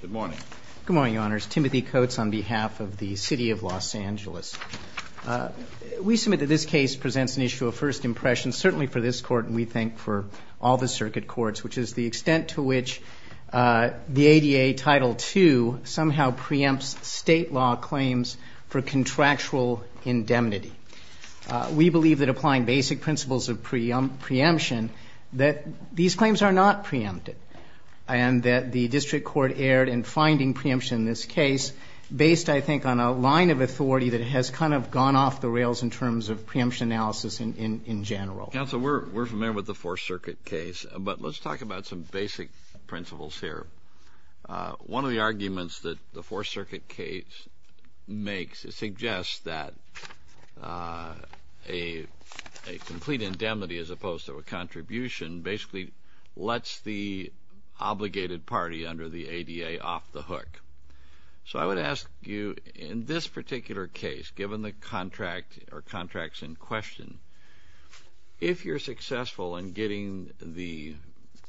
Good morning. Good morning, Your Honors. Timothy Coates on behalf of the City of Los Angeles. We submit that this case presents an issue of first impression, certainly for this court and we think for all the circuit courts, which is the extent to which the ADA Title II somehow preempts state law claims for contractual indemnity. We believe that applying basic principles of preemption that these claims are not preempted and that the district court erred in finding preemption in this case based, I think, on a line of authority that has kind of gone off the rails in terms of preemption analysis in general. Counsel, we're familiar with the Fourth Circuit case, but let's talk about some basic principles here. One of the arguments that the Fourth Circuit case makes suggests that a complete indemnity as opposed to a contribution basically lets the obligated party under the ADA off the hook. So I would ask you, in this particular case, given the contract or contracts in question, if you're successful in getting the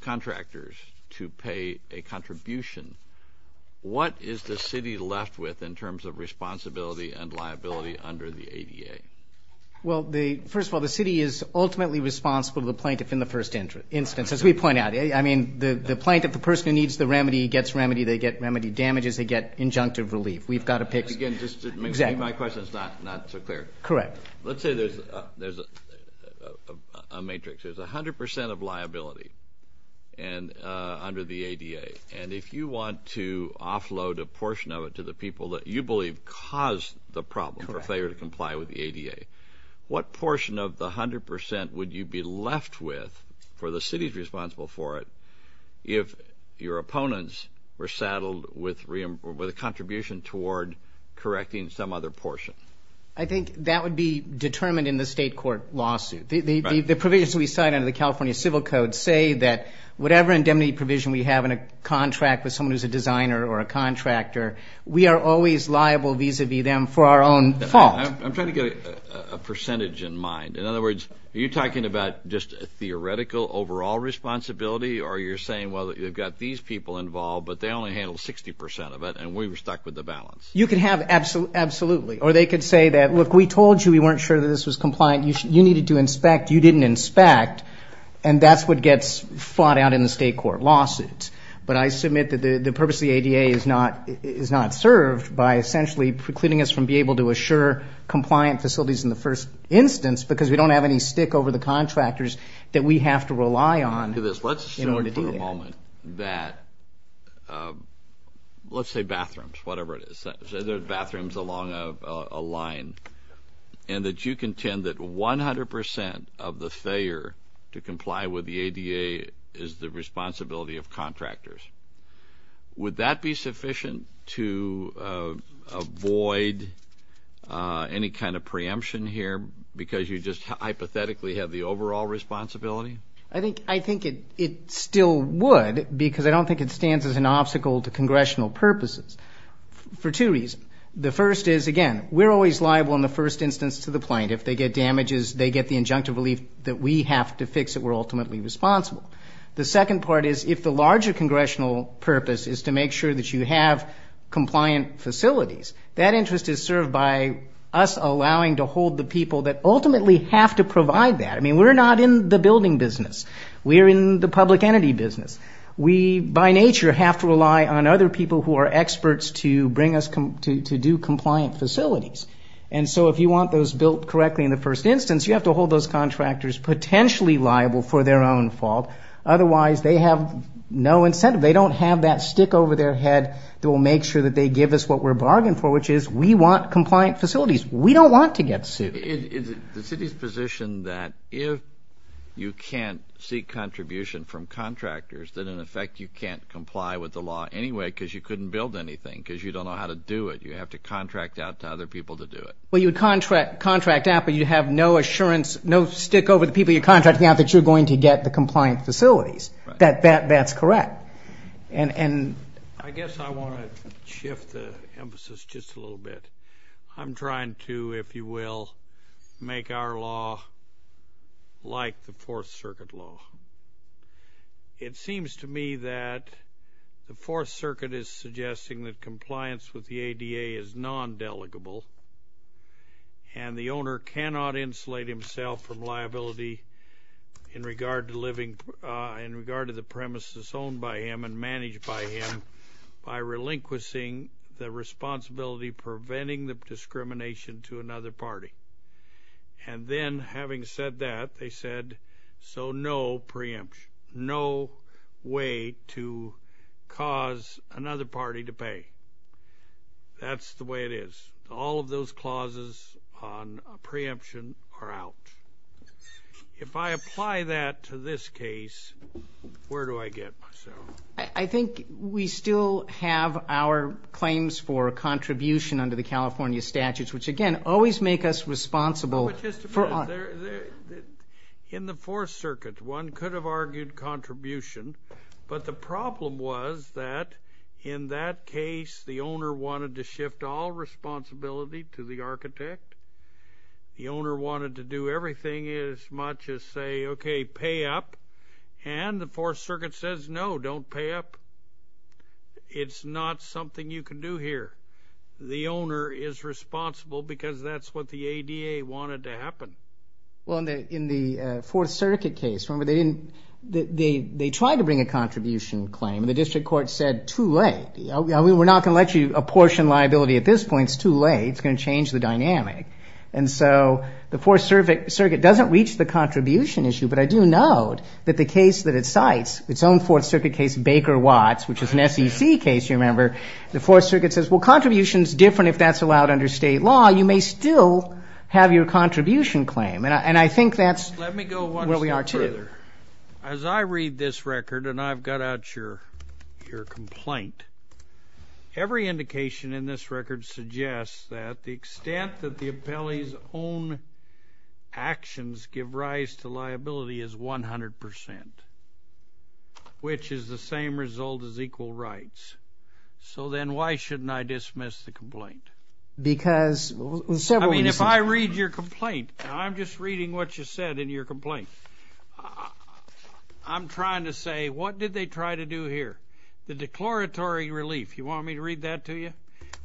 contractors to pay a contribution, what is the city left with in terms of responsibility and liability under the ADA? Well, first of all, the city is ultimately responsible to the plaintiff in the first instance, as we point out. I mean, the plaintiff, the person who needs the remedy gets remedy. They get remedy damages. They get injunctive relief. We've got to pick. Again, just to make my questions not so clear. Correct. Let's say there's a matrix. There's 100 percent of liability under the ADA. And if you want to offload a portion of it to the people that you believe caused the problem for failure to comply with the ADA, what portion of the 100 percent would you be left with for the cities responsible for it if your opponents were saddled with a contribution toward correcting some other portion? I think that would be determined in the state court lawsuit. The provisions we cite under the California Civil Code say that whatever indemnity provision we have in a contract with someone who's a designer or a contractor, we are always liable vis-à-vis them for our own fault. I'm trying to get a percentage in mind. In other words, are you talking about just a theoretical overall responsibility, or you're saying, well, you've got these people involved, but they only handled 60 percent of it, and we were stuck with the balance? You can have absolutely. Or they could say that, look, we told you we weren't sure that this was compliant. You needed to inspect. You didn't inspect. And that's what gets fought out in the state court lawsuit. But I submit that the purpose of the ADA is not served by essentially precluding us from being able to assure compliant facilities in the first instance because we don't have any stick over the contractors that we have to rely on. Let's assume for a moment that, let's say bathrooms, whatever it is, say there's bathrooms along a line and that you contend that 100 percent of the failure to comply with the ADA is the responsibility of contractors. Would that be sufficient to avoid any kind of preemption here because you just hypothetically have the overall responsibility? I think it still would because I don't think it stands as an obstacle to congressional purposes for two reasons. The first is, again, we're always liable in the first instance to the plaintiff. They get damages, they get the injunctive relief that we have to fix it. We're ultimately responsible. The second part is if the larger congressional purpose is to make sure that you have compliant facilities, that interest is served by us allowing to hold the people that ultimately have to provide that. I mean, we're not in the building business. We're in the public entity business. We by nature have to rely on other people who are experts to bring us to do compliant facilities. And so if you want those built correctly in the first instance, you have to hold those contractors potentially liable for their own fault. Otherwise they have no incentive. They don't have that stick over their head that will make sure that they give us what we're bargaining for, which is we want compliant facilities. We don't want to get sued. The city's position that if you can't seek contribution from contractors, then in effect you can't comply with the law anyway because you couldn't build anything because you don't know how to do it. You have to contract out to other people to do it. Well, you contract out, but you have no assurance, no stick over the people you're contracting out, that you're going to get the compliant facilities. That's correct. I guess I want to shift the emphasis just a little bit. I'm trying to, if you will, make our law like the Fourth Circuit law. It seems to me that the Fourth Circuit is suggesting that compliance with the ADA is non-delegable and the owner cannot insulate himself from liability in regard to the premises owned by him and managed by him by relinquishing the responsibility preventing the discrimination to another party. And then having said that, they said, so no preemption, no way to cause another party to pay. That's the way it is. All of those clauses on preemption are out. If I apply that to this case, where do I get myself? I think we still have our claims for a contribution under the California statutes, which, again, always make us responsible. In the Fourth Circuit, one could have argued contribution, but the problem was that in that case the owner wanted to shift all responsibility to the architect. The owner wanted to do everything as much as say, okay, pay up, and the Fourth Circuit says, no, don't pay up. It's not something you can do here. The owner is responsible because that's what the ADA wanted to happen. Well, in the Fourth Circuit case, remember, they tried to bring a contribution claim, and the district court said too late. We're not going to let you apportion liability at this point. It's too late. It's going to change the dynamic. And so the Fourth Circuit doesn't reach the contribution issue, but I do note that the case that it cites, its own Fourth Circuit case, Baker-Watts, which is an SEC case, you remember, the Fourth Circuit says, well, contribution is different if that's allowed under state law. You may still have your contribution claim, and I think that's where we are today. Let me go one step further. As I read this record, and I've got out your complaint, every indication in this record suggests that the extent that the appellee's own actions give rise to liability is 100%, which is the same result as equal rights. So then why shouldn't I dismiss the complaint? Because several reasons. I mean, if I read your complaint, and I'm just reading what you said in your complaint, I'm trying to say, what did they try to do here? The declaratory relief. You want me to read that to you?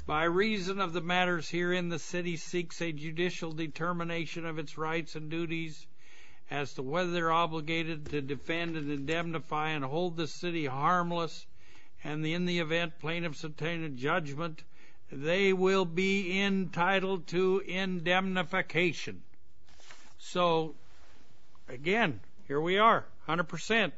By reason of the matters herein, the city seeks a judicial determination of its rights and duties as to whether they're obligated to defend and indemnify and hold the city harmless, and in the event plaintiffs obtain a judgment, they will be entitled to indemnification. So, again, here we are, 100%.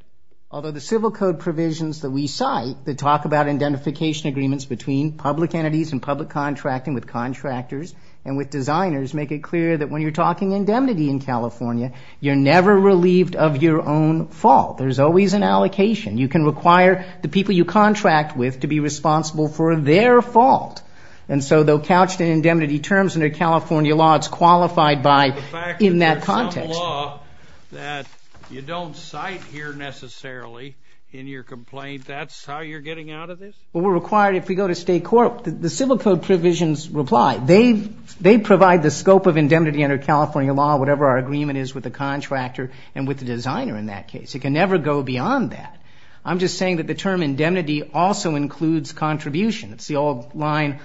Although the civil code provisions that we cite that talk about identification agreements between public entities and public contracting with contractors and with designers make it clear that when you're talking indemnity in California, you're never relieved of your own fault. There's always an allocation. You can require the people you contract with to be responsible for their fault. And so they'll couch the indemnity terms under California law. It's qualified by, in that context. That you don't cite here necessarily in your complaint, that's how you're getting out of this? Well, we're required, if we go to state court, the civil code provisions reply. They provide the scope of indemnity under California law, whatever our agreement is with the contractor and with the designer in that case. It can never go beyond that. I'm just saying that the term indemnity also includes contribution. It's the old line,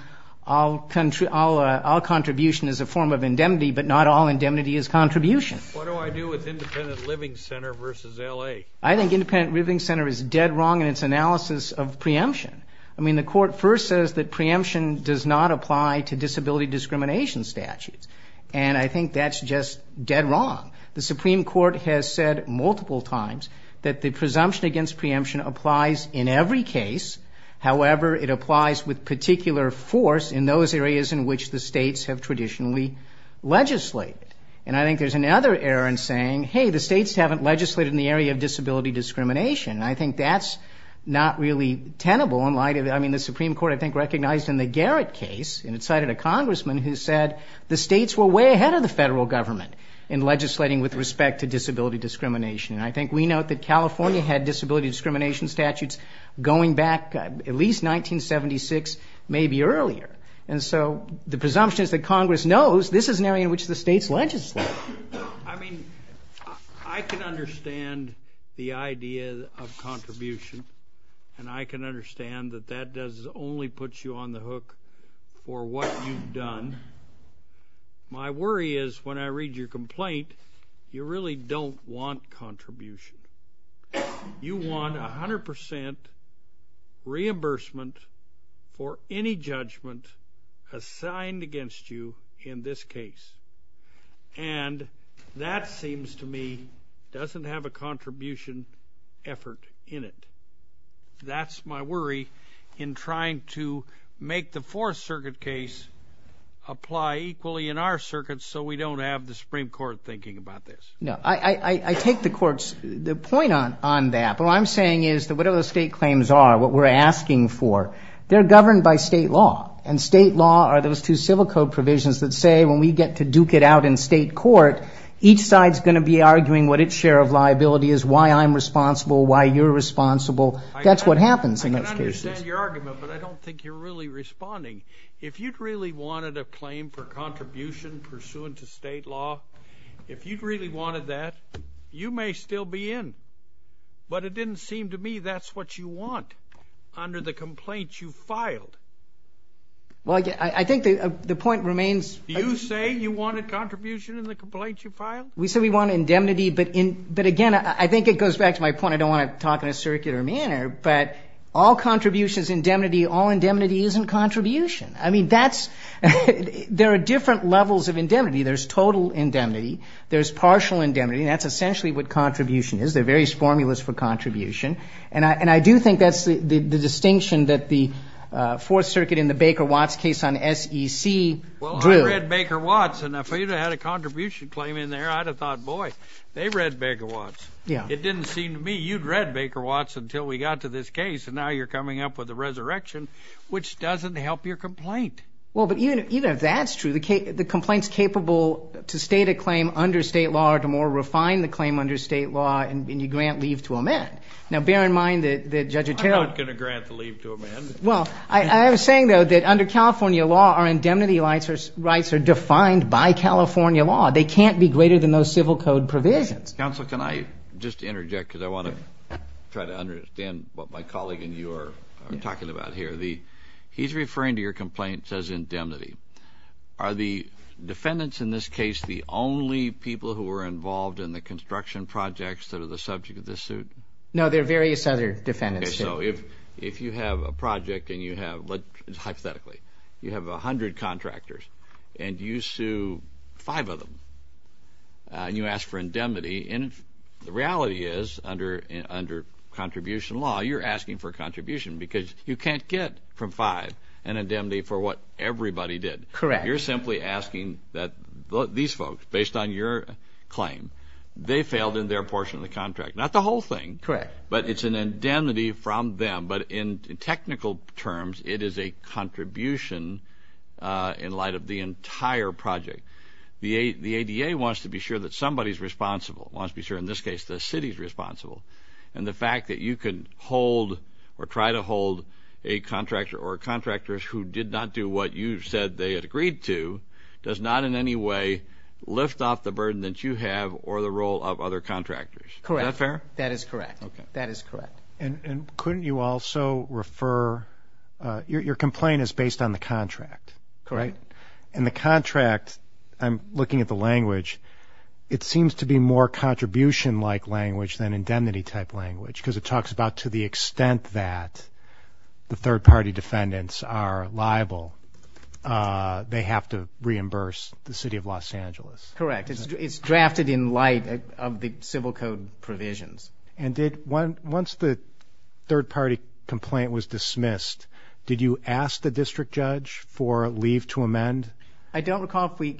all contribution is a form of indemnity, but not all indemnity is contribution. What do I do with independent living center versus L.A.? I think independent living center is dead wrong in its analysis of preemption. I mean, the court first says that preemption does not apply to disability discrimination statutes. And I think that's just dead wrong. The Supreme Court has said multiple times that the presumption against preemption applies in every case. However, it applies with particular force in those areas in which the states have traditionally legislated. And I think there's another error in saying, hey, the states haven't legislated in the area of disability discrimination. And I think that's not really tenable. I mean, the Supreme Court, I think, recognized in the Garrett case, and it cited a congressman who said the states were way ahead of the federal government in legislating with respect to disability discrimination. And I think we note that California had disability discrimination statutes going back at least 1976, maybe earlier. And so the presumption is that Congress knows this is an area in which the states legislate. I mean, I can understand the idea of contribution, and I can understand that that does only put you on the hook for what you've done. My worry is when I read your complaint, you really don't want contribution. You want 100 percent reimbursement for any judgment assigned against you in this case. And that seems to me doesn't have a contribution effort in it. That's my worry in trying to make the Fourth Circuit case apply equally in our circuit, so we don't have the Supreme Court thinking about this. No, I take the court's point on that, but what I'm saying is that whatever the state claims are, what we're asking for, they're governed by state law, and state law are those two civil code provisions that say when we get to duke it out in state court, each side's going to be arguing what its share of liability is, why I'm responsible, why you're responsible. That's what happens in those cases. I understand your argument, but I don't think you're really responding. If you'd really wanted a claim for contribution pursuant to state law, if you'd really wanted that, you may still be in. But it didn't seem to me that's what you want under the complaint you filed. Well, I think the point remains... Did you say you wanted contribution in the complaint you filed? We said we wanted indemnity, but again, I think it goes back to my point. I don't want to talk in a circular manner, but all contribution is indemnity. All indemnity isn't contribution. I mean, there are different levels of indemnity. There's total indemnity. There's partial indemnity, and that's essentially what contribution is. There are various formulas for contribution, and I do think that's the distinction that the Fourth Circuit in the Baker-Watts case on SEC drew. Well, I read Baker-Watts, and if I had a contribution claim in there, I'd have thought, Boy, they read Baker-Watts. It didn't seem to me you'd read Baker-Watts until we got to this case, and now you're coming up with a resurrection, which doesn't help your complaint. Well, but even if that's true, the complaint's capable to state a claim under state law or to more refine the claim under state law, and you grant leave to amend. Now, bear in mind that Judge Otero... I'm not going to grant the leave to amend. Well, I am saying, though, that under California law, our indemnity rights are defined by California law. They can't be greater than those civil code provisions. Counsel, can I just interject because I want to try to understand what my colleague and you are talking about here? He's referring to your complaint as indemnity. Are the defendants in this case the only people who were involved in the construction projects that are the subject of this suit? No, there are various other defendants. Okay, so if you have a project and you have, hypothetically, you have 100 contractors and you sue five of them and you ask for indemnity, and the reality is, under contribution law, you're asking for a contribution because you can't get from five an indemnity for what everybody did. Correct. You're simply asking that these folks, based on your claim, they failed in their portion of the contract. Not the whole thing. Correct. But it's an indemnity from them. But in technical terms, it is a contribution in light of the entire project. The ADA wants to be sure that somebody is responsible, wants to be sure, in this case, the city is responsible. And the fact that you can hold or try to hold a contractor or contractors who did not do what you said they had agreed to does not in any way lift off the burden that you have or the role of other contractors. Correct. Is that fair? That is correct. Okay. That is correct. And couldn't you also refer, your complaint is based on the contract. Correct. And the contract, I'm looking at the language, it seems to be more contribution-like language than indemnity-type language because it talks about to the extent that the third-party defendants are liable, they have to reimburse the city of Los Angeles. Correct. It's drafted in light of the civil code provisions. And once the third-party complaint was dismissed, did you ask the district judge for leave to amend? I don't recall if we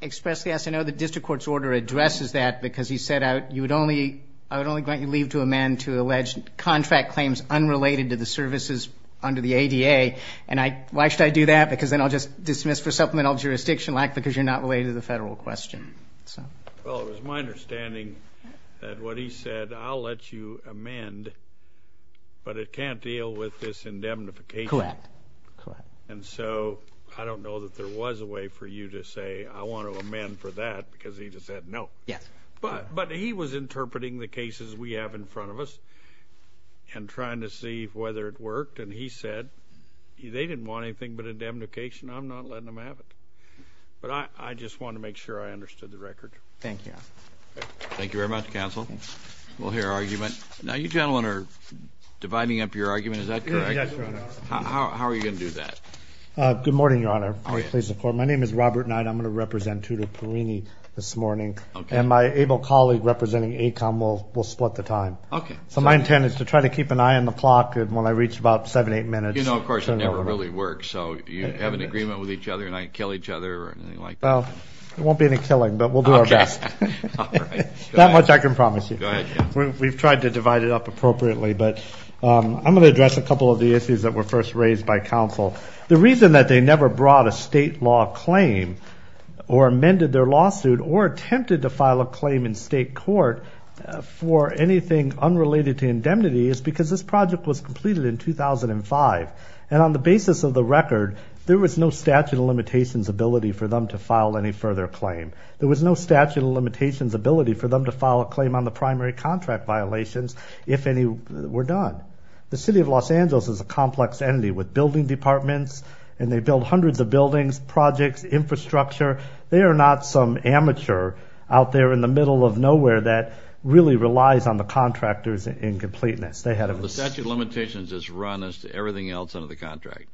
expressed yes. I know the district court's order addresses that because he said, I would only grant you leave to amend to alleged contract claims unrelated to the services under the ADA. Why should I do that? Because then I'll just dismiss for supplemental jurisdiction lack because you're not related to the federal question. Well, it was my understanding that what he said, I'll let you amend, but it can't deal with this indemnification. Correct. And so I don't know that there was a way for you to say, I want to amend for that because he just said no. Yes. But he was interpreting the cases we have in front of us and trying to see whether it worked. And he said they didn't want anything but indemnification. I'm not letting them have it. But I just wanted to make sure I understood the record. Thank you, Your Honor. Thank you very much, counsel. We'll hear argument. Now, you gentlemen are dividing up your argument. Is that correct? Yes, Your Honor. How are you going to do that? Good morning, Your Honor. My name is Robert Knight. I'm going to represent Tudor Perini this morning. And my able colleague representing ACOM will split the time. Okay. So my intent is to try to keep an eye on the clock when I reach about seven, eight minutes. You know, of course, it never really works. So you have an agreement with each other and I kill each other or anything like that? Well, there won't be any killing, but we'll do our best. Okay. All right. That much I can promise you. Go ahead. We've tried to divide it up appropriately, but I'm going to address a couple of the issues that were first raised by counsel. The reason that they never brought a state law claim or amended their lawsuit or attempted to file a claim in state court for anything unrelated to indemnity is because this project was completed in 2005. And on the basis of the record, there was no statute of limitations ability for them to file any further claim. There was no statute of limitations ability for them to file a claim on the primary contract violations if any were done. The City of Los Angeles is a complex entity with building departments, and they build hundreds of buildings, projects, infrastructure. They are not some amateur out there in the middle of nowhere that really relies on the contractor's incompleteness. The statute of limitations is run as to everything else under the contract.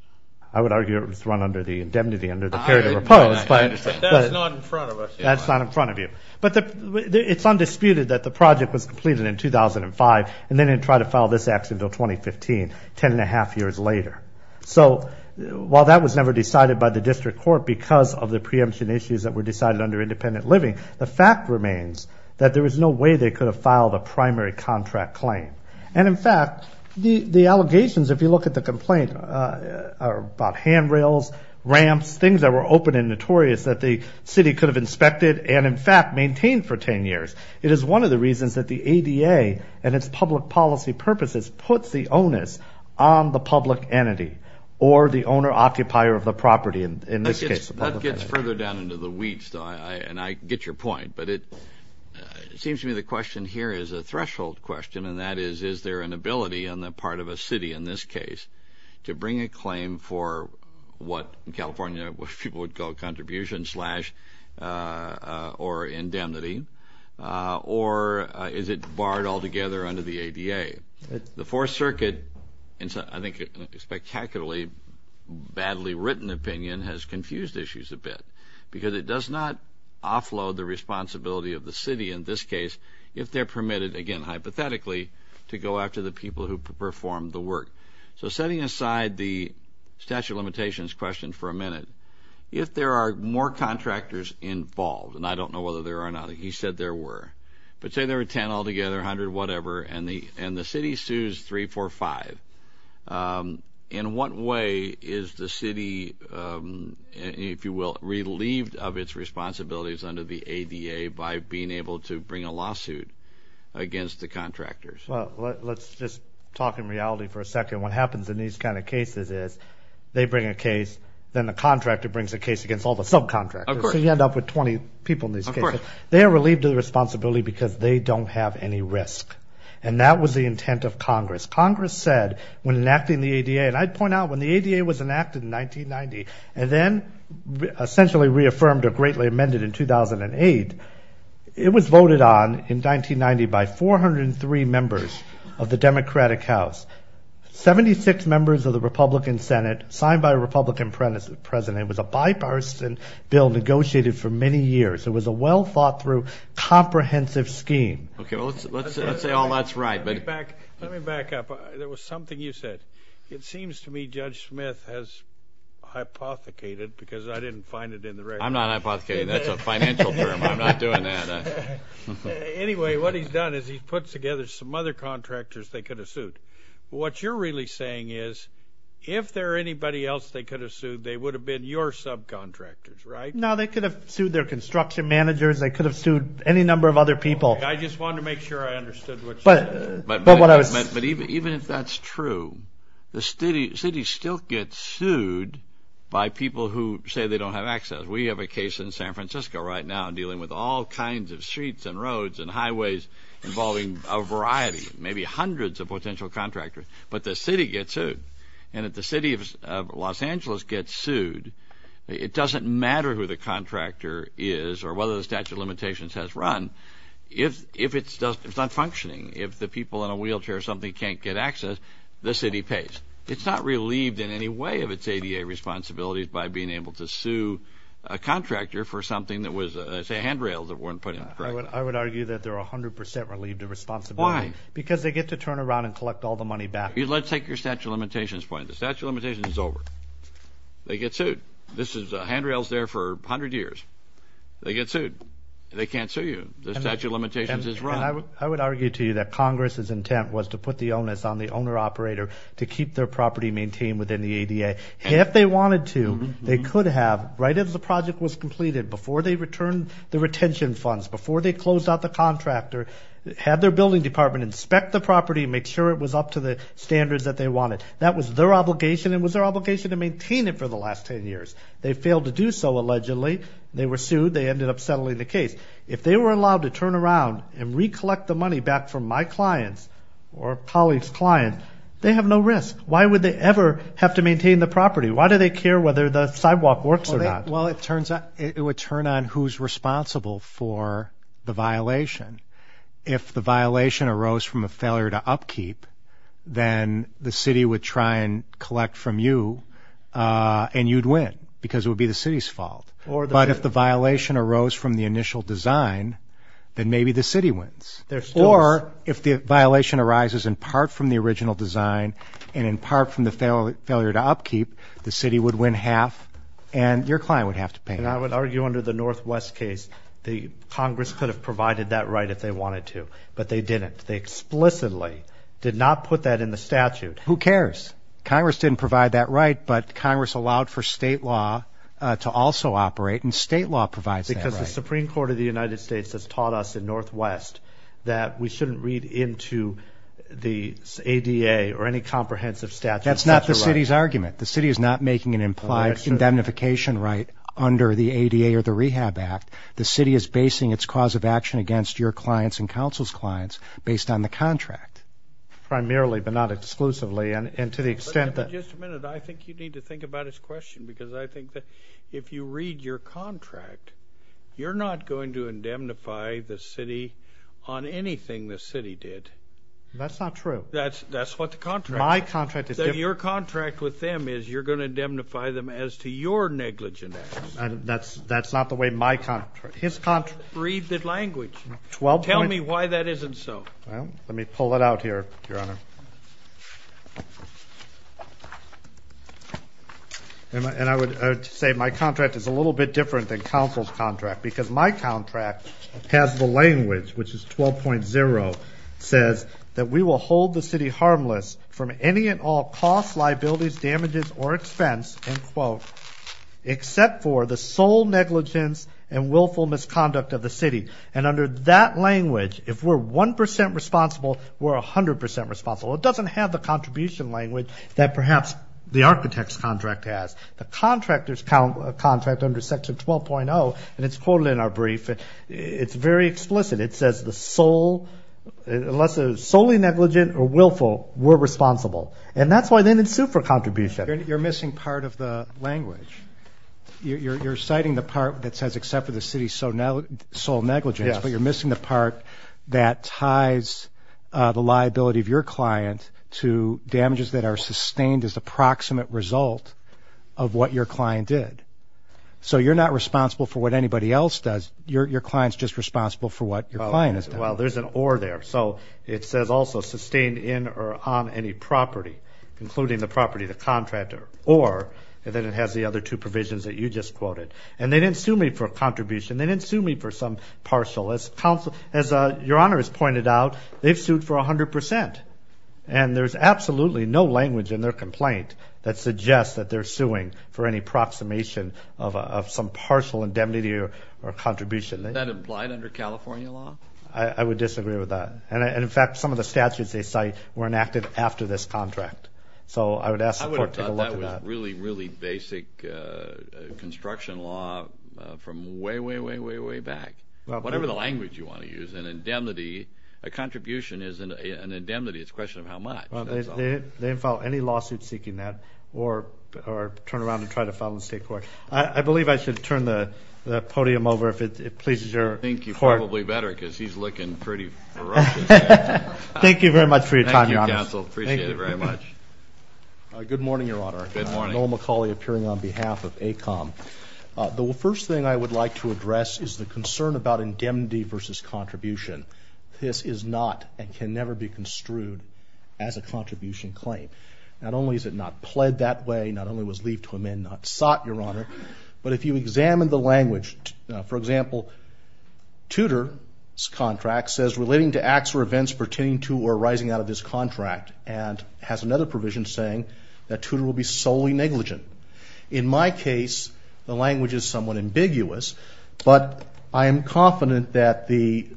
I would argue it was run under the indemnity under the period of repose. I understand. But that's not in front of us. That's not in front of you. But it's undisputed that the project was completed in 2005, and they didn't try to file this action until 2015, ten and a half years later. So while that was never decided by the district court because of the preemption issues that were decided under independent living, the fact remains that there was no way they could have filed a primary contract claim. And in fact, the allegations, if you look at the complaint, are about handrails, ramps, things that were open and notorious that the city could have inspected and, in fact, maintained for ten years. It is one of the reasons that the ADA and its public policy purposes puts the onus on the public entity or the owner-occupier of the property in this case. That gets further down into the weeds, though, and I get your point. But it seems to me the question here is a threshold question, and that is, is there an ability on the part of a city in this case to bring a claim for what, in California, what people would call contribution slash or indemnity, or is it barred altogether under the ADA? The Fourth Circuit, in I think a spectacularly badly written opinion, has confused issues a bit because it does not offload the responsibility of the city in this case if they're permitted, again hypothetically, to go after the people who perform the work. So setting aside the statute of limitations question for a minute, if there are more contractors involved, and I don't know whether there are or not, he said there were, but say there were ten altogether, a hundred, whatever, and the city sues three, four, five, in what way is the city, if you will, relieved of its responsibilities under the ADA by being able to bring a lawsuit against the contractors? Well, let's just talk in reality for a second. What happens in these kind of cases is they bring a case, then the contractor brings a case against all the subcontractors. Of course. So you end up with 20 people in these cases. Of course. They are relieved of the responsibility because they don't have any risk, and that was the intent of Congress. Congress said when enacting the ADA, and I'd point out when the ADA was enacted in 1990, and then essentially reaffirmed or greatly amended in 2008, it was voted on in 1990 by 403 members of the Democratic House. Seventy-six members of the Republican Senate signed by a Republican president. It was a bipartisan bill negotiated for many years. It was a well-thought-through comprehensive scheme. Okay. Well, let's say all that's right. Let me back up. There was something you said. It seems to me Judge Smith has hypothecated because I didn't find it in the record. I'm not hypothecating. That's a financial term. I'm not doing that. Anyway, what he's done is he's put together some other contractors they could have sued. What you're really saying is if there are anybody else they could have sued, they would have been your subcontractors, right? No, they could have sued their construction managers. They could have sued any number of other people. I just wanted to make sure I understood what you said. But even if that's true, the city still gets sued by people who say they don't have access. We have a case in San Francisco right now dealing with all kinds of streets and roads and highways involving a variety, maybe hundreds of potential contractors, but the city gets sued. And if the city of Los Angeles gets sued, it doesn't matter who the contractor is or whether the statute of limitations has run if it's not functioning, if the people in a wheelchair or something can't get access, the city pays. It's not relieved in any way of its ADA responsibilities by being able to sue a contractor for something that was, say, handrails that weren't put in place. I would argue that they're 100 percent relieved of responsibility. Why? Because they get to turn around and collect all the money back. Let's take your statute of limitations point. The statute of limitations is over. They get sued. This is handrails there for 100 years. They get sued. They can't sue you. The statute of limitations is wrong. I would argue to you that Congress's intent was to put the onus on the owner-operator to keep their property maintained within the ADA. If they wanted to, they could have, right as the project was completed, before they returned the retention funds, before they closed out the contractor, had their building department inspect the property and make sure it was up to the standards that they wanted. That was their obligation and was their obligation to maintain it for the last 10 years. They failed to do so, allegedly. They were sued. They ended up settling the case. If they were allowed to turn around and recollect the money back from my clients or a colleague's client, they have no risk. Why would they ever have to maintain the property? Why do they care whether the sidewalk works or not? Well, it would turn on who's responsible for the violation. If the violation arose from a failure to upkeep, then the city would try and collect from you, and you'd win because it would be the city's fault. But if the violation arose from the initial design, then maybe the city wins. Or if the violation arises in part from the original design and in part from the failure to upkeep, the city would win half and your client would have to pay. And I would argue under the Northwest case, Congress could have provided that right if they wanted to, but they didn't. They explicitly did not put that in the statute. Who cares? Congress didn't provide that right, but Congress allowed for state law to also operate, and state law provides that right. Because the Supreme Court of the United States has taught us in Northwest that we shouldn't read into the ADA or any comprehensive statute. That's not the city's argument. The city is not making an implied indemnification right under the ADA or the Rehab Act. The city is basing its cause of action against your clients and counsel's clients based on the contract. Primarily, but not exclusively. Just a minute. I think you need to think about his question because I think that if you read your contract, you're not going to indemnify the city on anything the city did. That's not true. That's what the contract is. My contract is different. Your contract with them is you're going to indemnify them as to your negligence. That's not the way my contract is. Read the language. Tell me why that isn't so. Let me pull it out here, Your Honor. And I would say my contract is a little bit different than counsel's contract because my contract has the language, which is 12.0, says that we will hold the city harmless from any and all costs, liabilities, damages, or expense, except for the sole negligence and willful misconduct of the city. And under that language, if we're 1% responsible, we're 100% responsible. It doesn't have the contribution language that perhaps the architect's contract has. The contractor's contract under Section 12.0, and it's quoted in our brief, it's very explicit. It says the sole, unless it's solely negligent or willful, we're responsible. And that's why they didn't sue for contribution. You're missing part of the language. You're citing the part that says except for the city's sole negligence, but you're missing the part that ties the liability of your client to damages that are sustained as a proximate result of what your client did. So you're not responsible for what anybody else does. Your client's just responsible for what your client has done. Well, there's an or there. So it says also sustained in or on any property, including the property of the contractor, or then it has the other two provisions that you just quoted. And they didn't sue me for a contribution. They didn't sue me for some partial. As your Honor has pointed out, they've sued for 100%. And there's absolutely no language in their complaint that suggests that they're suing for any approximation of some partial indemnity or contribution. Is that implied under California law? I would disagree with that. And, in fact, some of the statutes they cite were enacted after this contract. So I would ask the court to take a look at that. I would have thought that was really, really basic construction law from way, way, way, way back. Whatever the language you want to use, an indemnity, a contribution is an indemnity. It's a question of how much. They didn't file any lawsuit seeking that or turn around and try to file in the state court. I believe I should turn the podium over if it pleases your court. I think you probably better because he's looking pretty ferocious. Thank you, counsel. Appreciate it very much. Good morning, your Honor. Good morning. Noel McCauley appearing on behalf of ACOM. The first thing I would like to address is the concern about indemnity versus contribution. This is not and can never be construed as a contribution claim. Not only is it not pled that way, not only was leave to amend not sought, your Honor, but if you examine the language, for example, Tudor's contract says, relating to acts or events pertaining to or arising out of this contract and has another provision saying that Tudor will be solely negligent. In my case, the language is somewhat ambiguous, but I am confident that the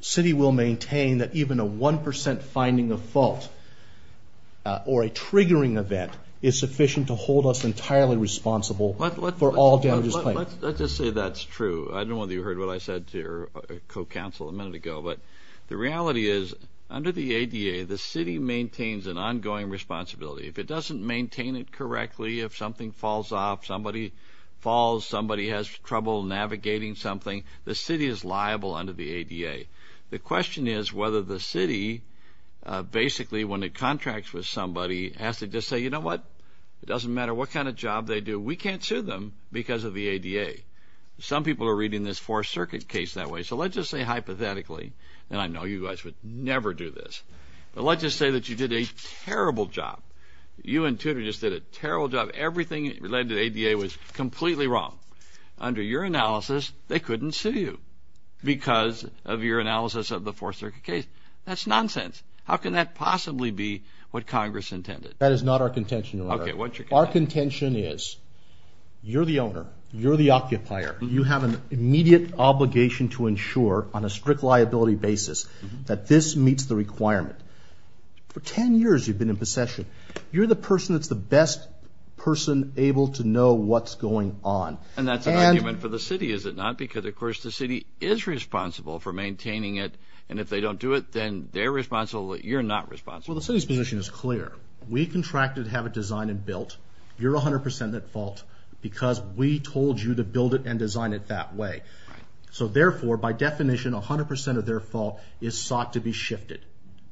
city will maintain that even a 1% finding of fault or a triggering event is sufficient to hold us entirely responsible for all damages claimed. Let's just say that's true. I don't know whether you heard what I said to your co-counsel a minute ago, but the reality is under the ADA, the city maintains an ongoing responsibility. If it doesn't maintain it correctly, if something falls off, somebody falls, somebody has trouble navigating something, the city is liable under the ADA. The question is whether the city basically, when it contracts with somebody, has to just say, you know what, it doesn't matter what kind of job they do, we can't sue them because of the ADA. Some people are reading this Fourth Circuit case that way, so let's just say hypothetically, and I know you guys would never do this, but let's just say that you did a terrible job. You and Tudor just did a terrible job. Everything related to the ADA was completely wrong. Under your analysis, they couldn't sue you because of your analysis of the Fourth Circuit case. That's nonsense. How can that possibly be what Congress intended? That is not our contention, Your Honor. Okay, what's your contention? Our contention is you're the owner, you're the occupier, you have an immediate obligation to ensure on a strict liability basis that this meets the requirement. For 10 years you've been in possession. You're the person that's the best person able to know what's going on. And that's an argument for the city, is it not? Because, of course, the city is responsible for maintaining it, and if they don't do it, then they're responsible, you're not responsible. Well, the city's position is clear. We contracted to have it designed and built. You're 100% at fault because we told you to build it and design it that way. So, therefore, by definition, 100% of their fault is sought to be shifted.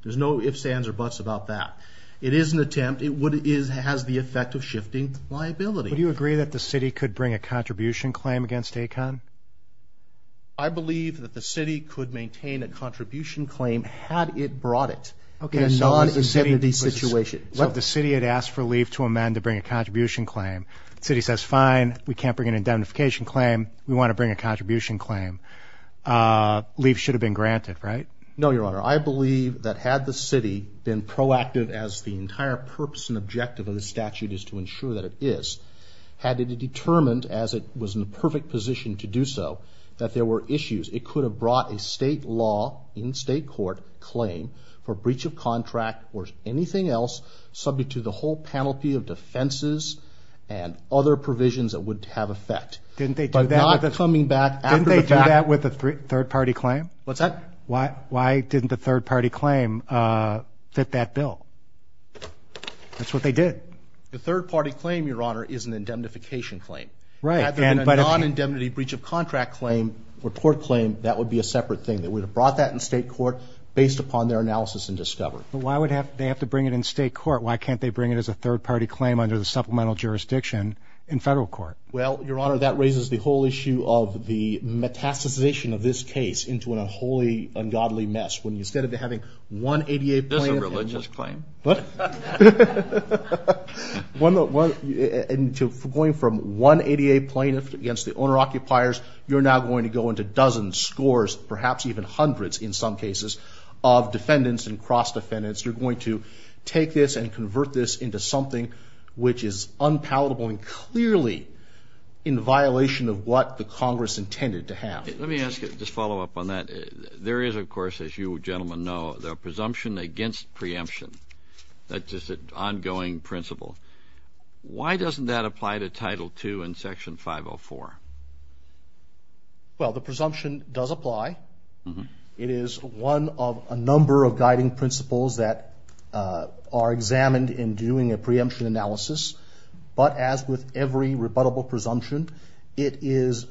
There's no ifs, ands, or buts about that. It is an attempt. It has the effect of shifting liability. Would you agree that the city could bring a contribution claim against ACON? I believe that the city could maintain a contribution claim had it brought it. Okay, so the city had asked for leave to amend to bring a contribution claim. The city says, fine, we can't bring an indemnification claim. We want to bring a contribution claim. Leave should have been granted, right? No, Your Honor. I believe that had the city been proactive, as the entire purpose and objective of the statute is to ensure that it is, had it determined, as it was in the perfect position to do so, that there were issues, it could have brought a state law in state court claim for breach of contract or anything else subject to the whole penalty of defenses and other provisions that would have effect. Didn't they do that with a third party claim? What's that? Why didn't the third party claim fit that bill? That's what they did. The third party claim, Your Honor, is an indemnification claim. Right. Rather than a non-indemnity breach of contract claim or court claim, that would be a separate thing. They would have brought that in state court based upon their analysis and discovery. Why would they have to bring it in state court? Why can't they bring it as a third party claim under the supplemental jurisdiction in federal court? Well, Your Honor, that raises the whole issue of the metastasization of this case into a wholly ungodly mess. Instead of having one ADA plaintiff. That's a religious claim. Going from one ADA plaintiff against the owner-occupiers, you're now going to go into dozens, scores, perhaps even hundreds in some cases, of defendants and cross-defendants. You're going to take this and convert this into something which is unpalatable and clearly in violation of what the Congress intended to have. Let me ask you, just follow up on that. There is, of course, as you gentlemen know, the presumption against preemption. That's just an ongoing principle. Why doesn't that apply to Title II in Section 504? Well, the presumption does apply. It is one of a number of guiding principles that are examined in doing a preemption analysis. But as with every rebuttable presumption, it is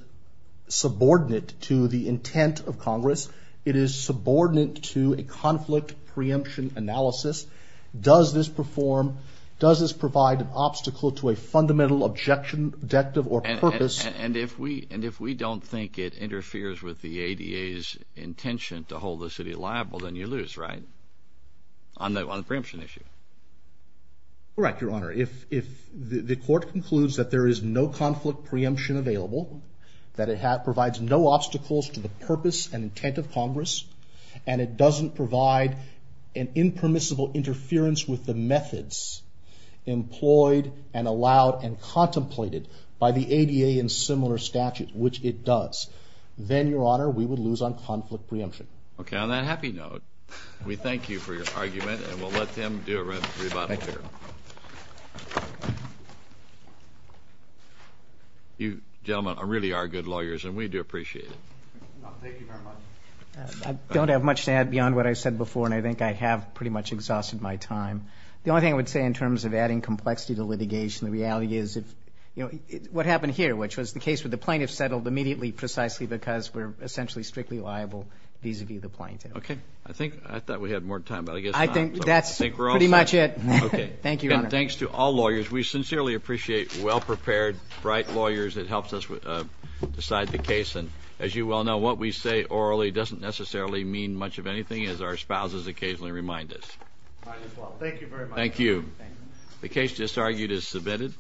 subordinate to the intent of Congress. It is subordinate to a conflict preemption analysis. Does this provide an obstacle to a fundamental objection, objective, or purpose? And if we don't think it interferes with the ADA's intention to hold the city liable, then you lose, right, on the preemption issue? Correct, Your Honor. If the court concludes that there is no conflict preemption available, that it provides no obstacles to the purpose and intent of Congress, and it doesn't provide an impermissible interference with the methods employed and allowed and contemplated by the ADA in similar statutes, which it does, then, Your Honor, we would lose on conflict preemption. Okay, on that happy note, we thank you for your argument, and we'll let them do a rebuttal here. Thank you. You gentlemen really are good lawyers, and we do appreciate it. Thank you very much. I don't have much to add beyond what I said before, and I think I have pretty much exhausted my time. The only thing I would say in terms of adding complexity to litigation, the reality is what happened here, which was the case where the plaintiff settled immediately precisely because we're essentially strictly liable vis-à-vis the plaintiff. Okay. I thought we had more time, but I guess not. I think that's pretty much it. Okay. Thank you, Your Honor. Again, thanks to all lawyers. We sincerely appreciate well-prepared, bright lawyers that helped us decide the case, and as you well know, what we say orally doesn't necessarily mean much of anything, as our spouses occasionally remind us. Might as well. Thank you very much. Thank you. The case just argued is submitted.